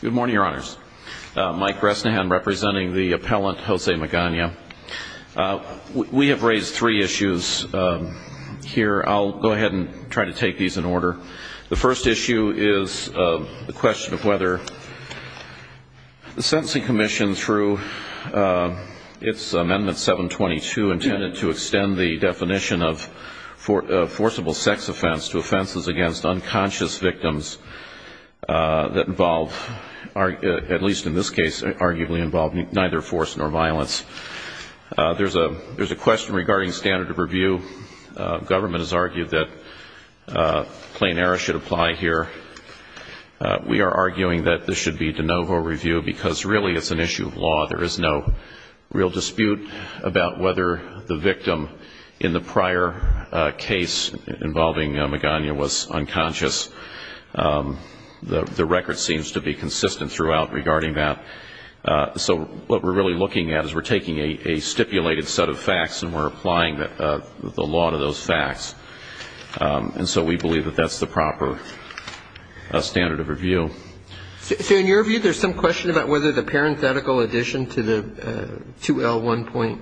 Good morning, your honors. Mike Resnahan representing the appellant Jose Magana. We have raised three issues here. I'll go ahead and try to take these in order. The first issue is the question of whether the sentencing commission through its amendment 722 intended to extend the definition of forcible sex offense to offenses against unconscious victims that involved at least in this case arguably involved neither force nor violence. There's a question regarding standard of review. Government has argued that plain error should apply here. We are arguing that this should be de novo review because really it's an issue of law. There is no real dispute about whether the statute should be consistent throughout regarding that. So what we're really looking at is we're taking a stipulated set of facts and we're applying the law to those facts. And so we believe that that's the proper standard of review. So in your view, there's some question about whether the parenthetical addition to the sentence, including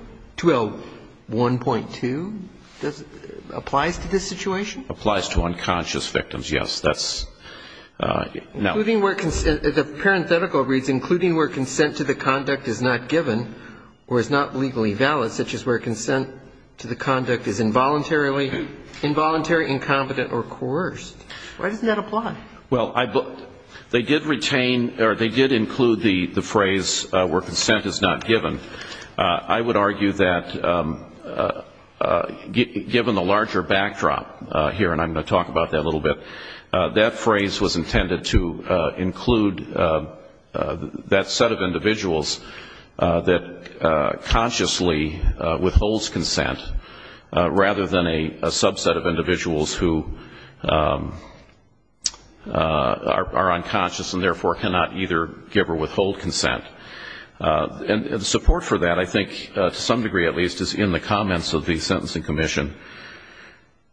where consent to the conduct is not given or is not legally valid, such as where consent to the conduct is involuntary, incompetent or coerced. Why doesn't that apply? Well, they did retain or they did include the phrase where consent is not given. I would argue that given the larger backdrop here, and I'm going to talk about that a little bit, that phrase was intended to include that set of individuals that consciously withholds consent rather than a subset of individuals who are unconscious and therefore cannot either give or withhold consent. And support for that, I think to some extent, is a little bit different. It's a little bit different in the context of the Justice and Commission,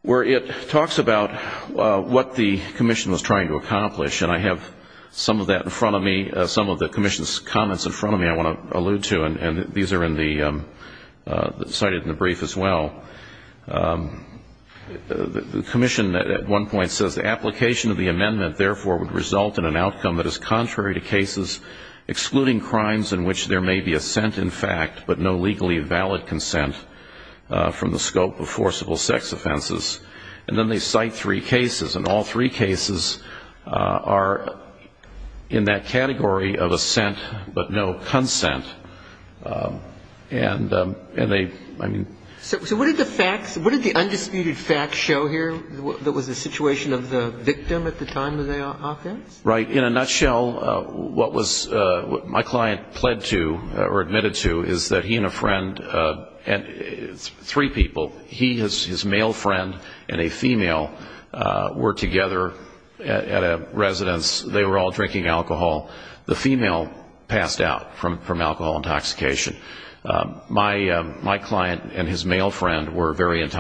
where it talks about what the commission was trying to accomplish. And I have some of that in front of me, some of the commission's comments in front of me I want to allude to, and these are in the cited in the brief as well. The commission at one point says the application of the amendment therefore would result in an outcome that is contrary to cases excluding crimes in which there may be assent in fact but no legally valid consent from the scope of forcible sex offenses. And then they cite three cases, and all three cases are in that category of assent but no consent. And they, I mean... So what did the facts, what did the undisputed facts show here that was the situation of the victim at the time of the offense? Right. In a nutshell, what was, what my client pled to, or admitted to, is that he and a friend, three people, he, his male friend, and a female were together at a residence. They were all drinking alcohol. The female passed out from alcohol intoxication. My client and his male friend were very And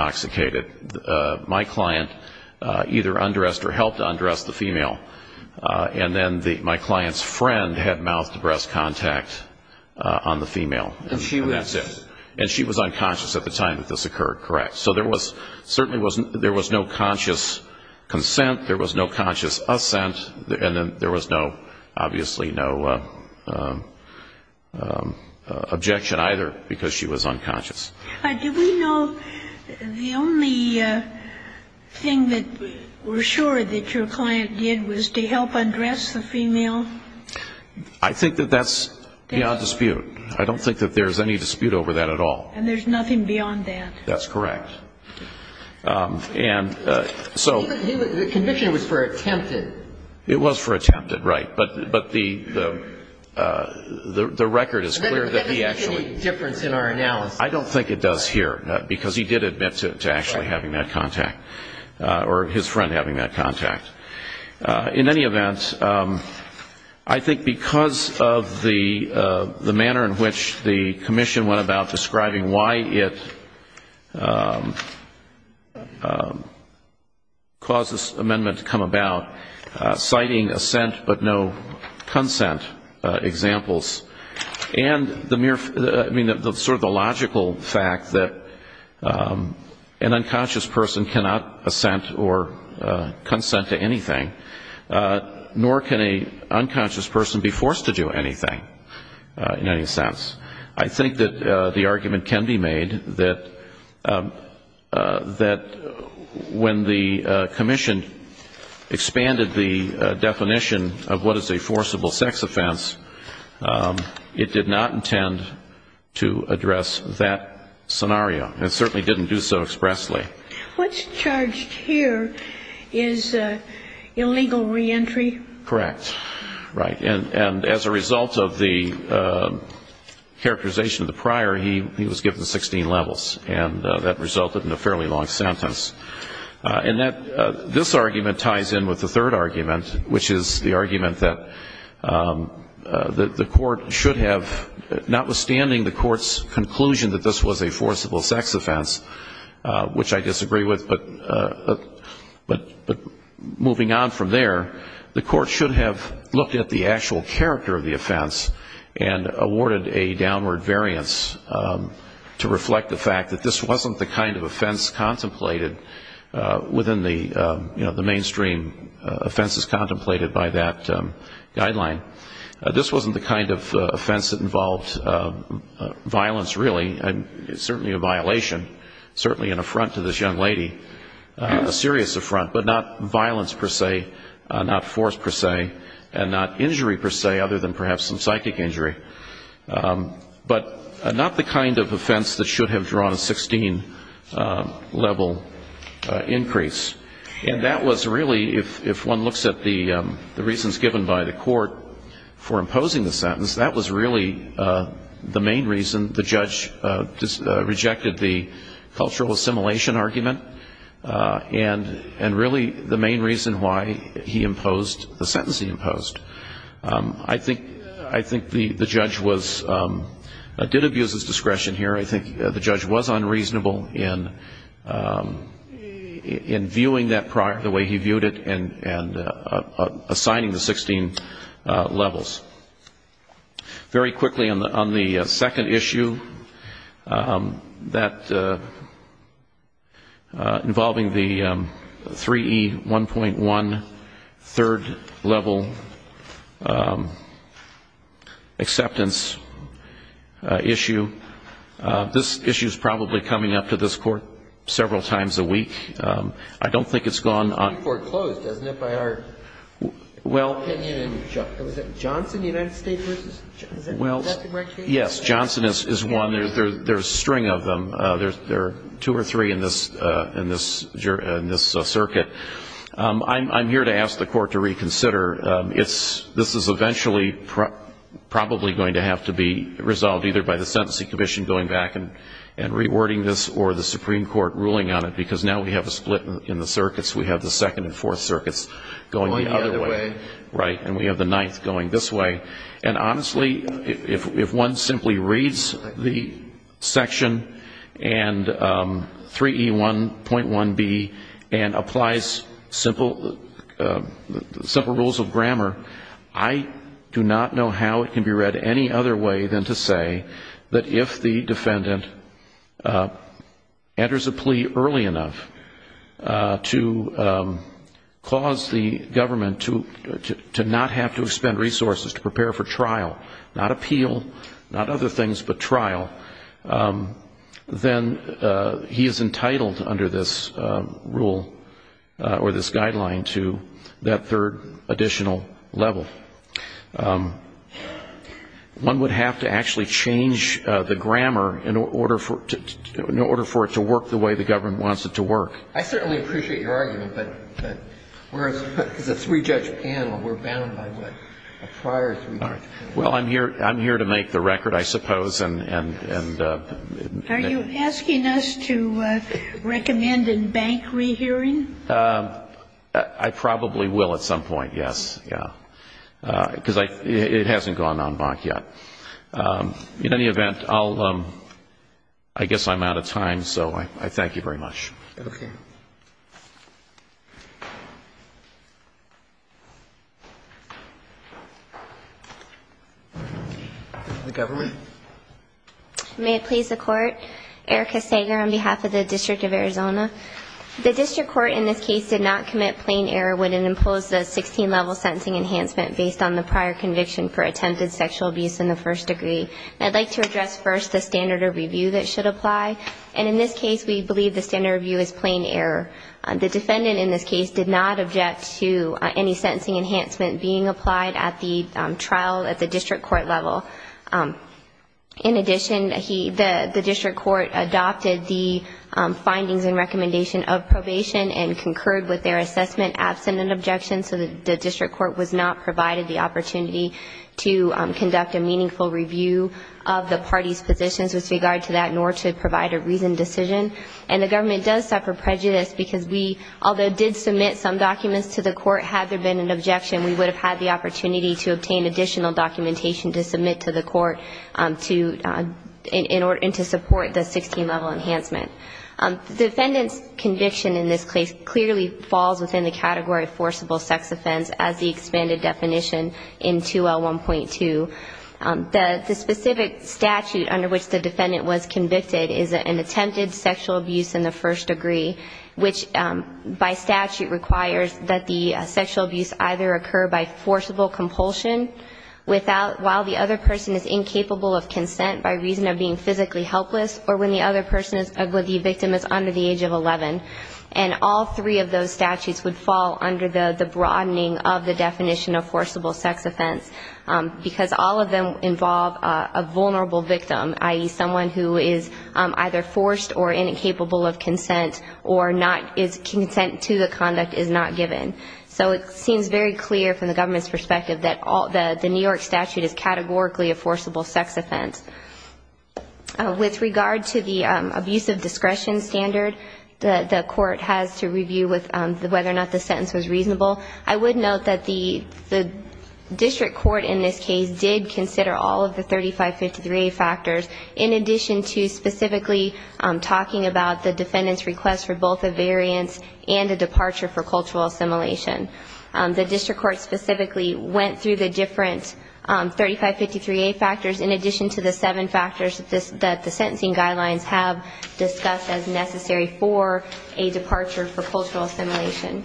then my client's friend had mouth-to-breast contact on the female, and that's it. And she was unconscious at the time that this occurred. Correct. So there was, certainly there was no conscious consent, there was no conscious assent, and then there was no, obviously no objection either because she was unconscious. Do we know, the only thing that we're sure that your client did was to help undress the female? I think that that's beyond dispute. I don't think that there's any dispute over that at all. And there's nothing beyond that? That's correct. And so... The conviction was for attempted. It was for attempted, right. But the record is clear that he actually... I don't think it does here, because he did admit to actually having that contact, or his friend having that contact. In any event, I think because of the manner in which the commission went about describing why it caused this amendment to come about, citing assent but no consent examples, and the mere, I mean sort of the logical fact that an unconscious person cannot assent or consent to anything, nor can an unconscious person be forced to do anything in any sense. I think that the argument can be made that when the commission expanded the definition of what is a forcible sex offense, it did not intend to address that scenario. It certainly didn't do so expressly. What's charged here is illegal reentry? Correct. Right. And as a result of the characterization of the prior, he was given 16 levels. And that resulted in a fairly long sentence. And this argument ties in with the third argument, which is the argument that the court should have, notwithstanding the court's conclusion that this was a forcible sex offense, which I disagree with, but moving on from there, the court should have looked at the actual character of the offense and awarded a downward variance to reflect the fact that this wasn't the kind of offense contemplated within the, you know, the mainstream offenses contemplated by that guideline. This wasn't the kind of offense that involved violence, really. It's certainly a violation, certainly an affront to this young lady, a serious affront, but not violence per se, not force per se, and not injury per se other than perhaps some psychic injury, but not the kind of offense that should have drawn a 16-level increase. And that was really, if one looks at the reasons given by the court for imposing the sentence, that was really the main reason the judge rejected the cultural assimilation argument and really the main reason why he imposed the sentence he imposed. I think the judge did abuse his discretion here. I think the judge was unreasonable in viewing that prior, the way he viewed it, and assigning the 16 levels. Very quickly, on the second issue, that involving the 3E1.1 third-level acceptance issue, this issue is probably coming up to this court several times a week. I don't think it's gone on. It's been foreclosed, isn't it, by our opinion? Was it Johnson, the United States? Is that the right case? Yes, Johnson is one. There's a string of them. There are two or three in this circuit. I'm here to ask the court to reconsider. This is eventually probably going to have to be resolved either by the sentencing commission going back and rewording this or the Supreme Court ruling on it, because now we have a split in the circuits. We have the second and fourth circuits going the other way, and we have the ninth going this way. And honestly, if one simply reads the section and 3E1.1B and applies simple rules of grammar, I do not know how it can be read any other way than to say that if the defendant enters a plea early enough to cause the government to not have to expend resources to prepare for trial, not appeal, not other things but trial, then he is entitled under this rule or this guideline to that third additional level. So one would have to actually change the grammar in order for it to work the way the government wants it to work. I certainly appreciate your argument, but we're a three-judge panel. We're bound by what a prior three-judge panel... Well, I'm here to make the record, I suppose, and... Are you asking us to recommend a bank rehearing? I probably will at some point, yes. Because it hasn't gone en banc yet. In any event, I guess I'm out of time, so I thank you very much. Okay. The government. May it please the Court. Erica Sager on behalf of the District of Arizona. The District Court in this case did not commit plain error when it imposed a 16-level sentencing enhancement based on the prior conviction for attempted sexual abuse in the first degree. I'd like to address first the standard of review that should apply. And in this case, we believe the standard review is plain error. The defendant in this case did not object to any sentencing enhancement being applied at the trial at the District Court level. In addition, the District Court adopted the findings and recommendation of probation and concurred with their assessment absent an objection, so the District Court was not provided the opportunity to conduct a meaningful review of the party's positions with regard to that, nor to provide a reasoned decision. And the government does suffer prejudice because we, although did submit some documents to the court, had there been an objection, we would have had the opportunity to obtain additional documentation to submit to the court in order to support the 16-level enhancement. The defendant's conviction in this case clearly falls within the category of forcible sex offense as the expanded definition in 2L1.2. The specific statute under which the defendant was convicted is an attempted sexual abuse in the first degree, which by statute requires that the sexual abuse either occur by forcible compulsion while the other person is incapable of consent by reason of being physically helpless, or when the other person's victim is under the age of 11. And all three of those statutes would fall under the broadening of the definition of forcible sex offense, because all of them involve a vulnerable victim, i.e., someone who is either forced or incapable of consent, or is consent to the conduct is not given. So it seems very clear from the government's perspective that the New York statute is categorically a forcible sex offense. With regard to the abuse of discretion standard that the court has to review with whether or not the sentence was reasonable, I would note that the district court in this case did consider all of the 3553A factors, in addition to specifically talking about the defendant's request for both a variance and a departure for cultural assimilation. The district court specifically went through the different 3553A factors in addition to the seven factors that the sentencing guidelines have discussed as necessary for a departure for cultural assimilation.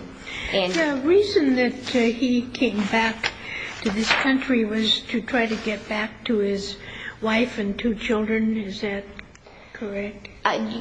And the reason that he came back to this country was to try to get back to his wife and two children. Is that correct?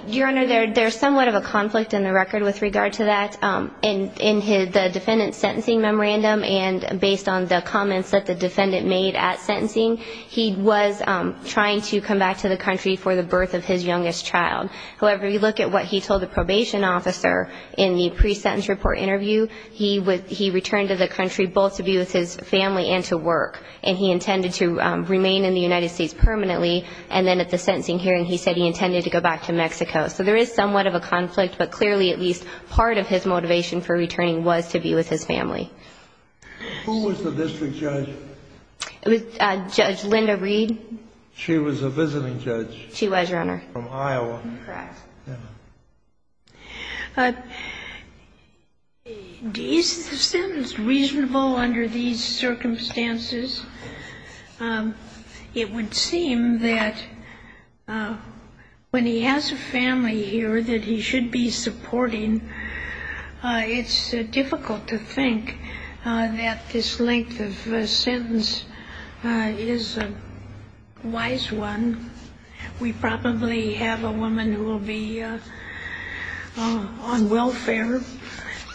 Your Honor, there's somewhat of a conflict in the record with regard to that. In the defendant's sentencing memorandum and based on the comments that the defendant made at sentencing, he was trying to come back to the country for the birth of his youngest child. However, you look at what he told the probation officer in the pre-sentence report interview, he returned to the country both to be with his family and to work, and he intended to remain in the United States permanently. And then at the sentencing hearing, he said he intended to go back to Mexico. So there is somewhat of a conflict, but clearly at least part of his motivation for returning was to be with his family. Who was the district judge? Judge Linda Reed. She was a visiting judge. She was, Your Honor. From Iowa. Correct. Is the sentence reasonable under these circumstances? It would seem that when he has a family here that he should be supporting, it's difficult to think that this length of sentence is a wise one. We probably have a woman who will be on welfare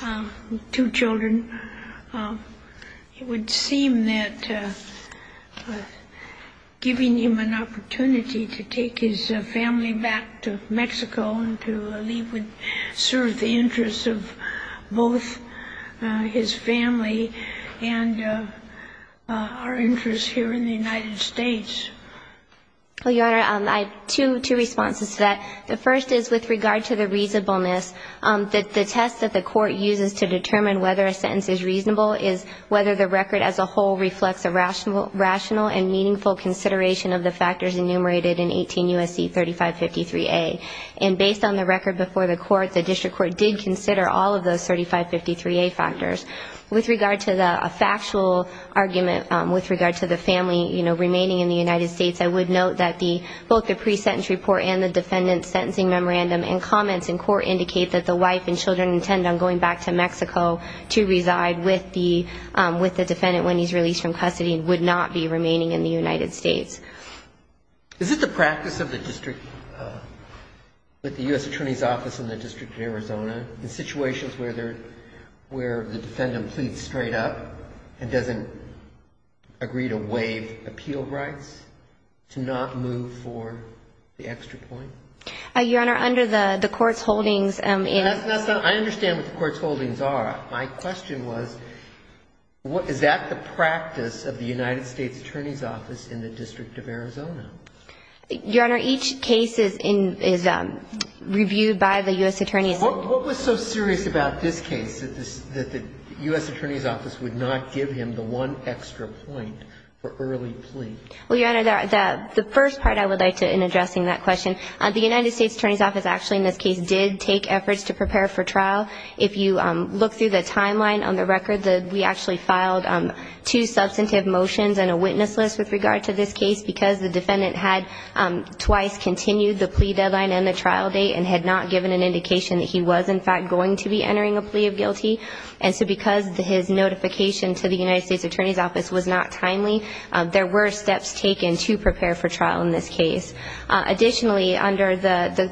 with two children. It would seem that giving him an opportunity to take his family back to Mexico and to leave would serve the interests of both his family and our interests here in the United States. Well, Your Honor, I have two responses to that. The first is with regard to the reasonableness, the test that the court uses to determine whether a sentence is reasonable is whether the record as a whole reflects a rational and meaningful consideration of the factors enumerated in 18 U.S.C. 3553A. And based on the record before the court, the district court did consider all of those 3553A factors. With regard to the factual argument with regard to the family, you know, remaining in the United States, I would note that both the pre-sentence report and the defendant's sentencing memorandum and comments in court indicate that the wife and children intend on going back to Mexico to reside with the defendant when he's released from custody and would not be remaining in the United States. Is it the practice of the district, with the U.S. Attorney's Office in the District of Arizona, in situations where the defendant pleads straight up and doesn't agree to waive appeal rights, to not move for the extra point? Your Honor, under the court's holdings in the... I understand what the court's holdings are. My question was, is that the practice of the United States Attorney's Office in the District of Arizona? Your Honor, each case is reviewed by the U.S. Attorney's Office. What was so serious about this case that the U.S. Attorney's Office would not give him the one extra point for early plea? Well, Your Honor, the first part I would like to, in addressing that question, the United States Attorney's Office actually in this case did take efforts to prepare for trial. If you look through the timeline on the record, we actually filed two substantive motions and a witness list with regard to this case because the defendant had twice continued the plea deadline and the trial date and had not given an indication that he was, in fact, going to be entering a plea of guilty. And so because his notification to the United States Attorney's Office was not timely, there were steps taken to prepare for trial in this case. Additionally, under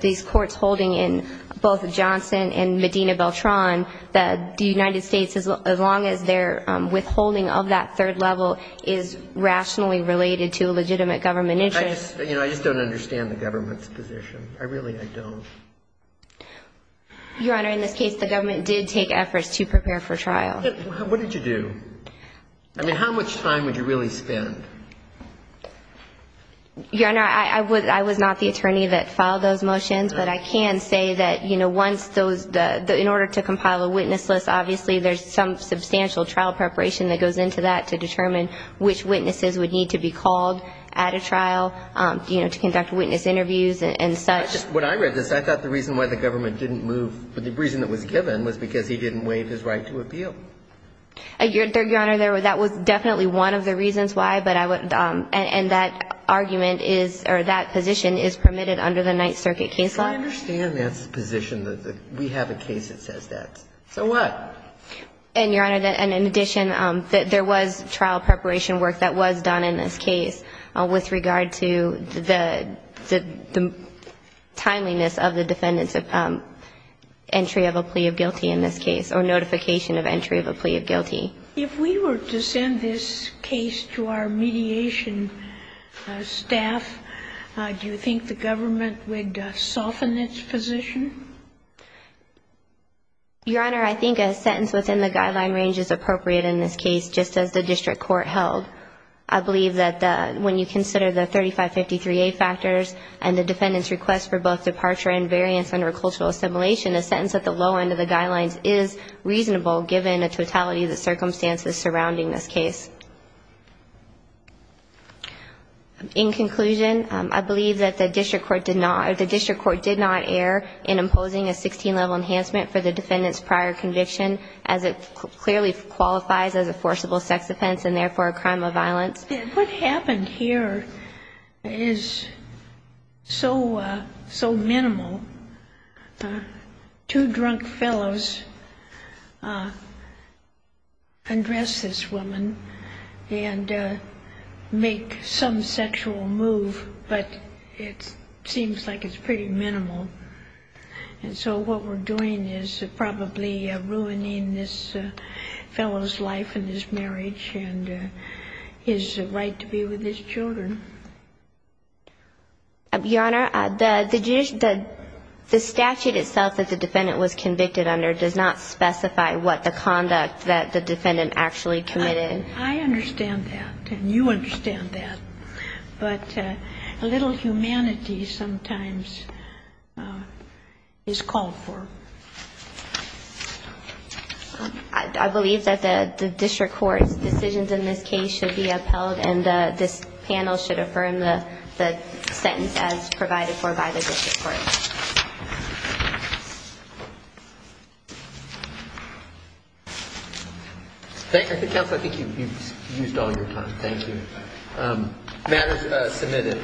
these courts' holdings in both Johnson and Medina Beltran, the United States, as long as their withholding of that third level is rationally related to a legitimate government interest. I just don't understand the government's position. I really don't. Your Honor, in this case, the government did take efforts to prepare for trial. What did you do? I mean, how much time would you really spend? Your Honor, I was not the attorney that filed those motions, but I can say that, you know, once those – in order to compile a witness list, obviously there's some substantial trial preparation that goes into that to determine which witnesses would need to be called at a trial, you know, to conduct witness interviews and such. When I read this, I thought the reason why the government didn't move – the reason it was given was because he didn't waive his right to appeal. Your Honor, that was definitely one of the reasons why, but I would – And that argument is – or that position is permitted under the Ninth Circuit case law? I understand that position, that we have a case that says that. So what? And, Your Honor, in addition, there was trial preparation work that was done in this case with regard to the timeliness of the defendant's entry of a plea of guilty in this case, or notification of entry of a plea of guilty. If we were to send this case to our mediation staff, do you think the government would soften its position? Your Honor, I think a sentence within the guideline range is appropriate in this case, just as the district court held. I believe that when you consider the 3553A factors and the defendant's request for both departure and variance under cultural assimilation, a sentence at the low end of the guidelines is reasonable, given the totality of the circumstances surrounding this case. In conclusion, I believe that the district court did not err in imposing a 16-level enhancement for the defendant's prior conviction, as it clearly qualifies as a forcible sex offense and, therefore, a crime of violence. What happened here is so minimal. Two drunk fellows undress this woman and make some sexual move, but it seems like it's pretty minimal. And so what we're doing is probably ruining this fellow's life and his marriage and his right to be with his children. Your Honor, the statute itself that the defendant was convicted under does not specify what the conduct that the defendant actually committed. I understand that, and you understand that. But a little humanity sometimes is called for. I believe that the district court's decisions in this case should be upheld and this panel should affirm the sentence as provided for by the district court. Thank you. Counsel, I think you've used all your time. Thank you. The matter is submitted.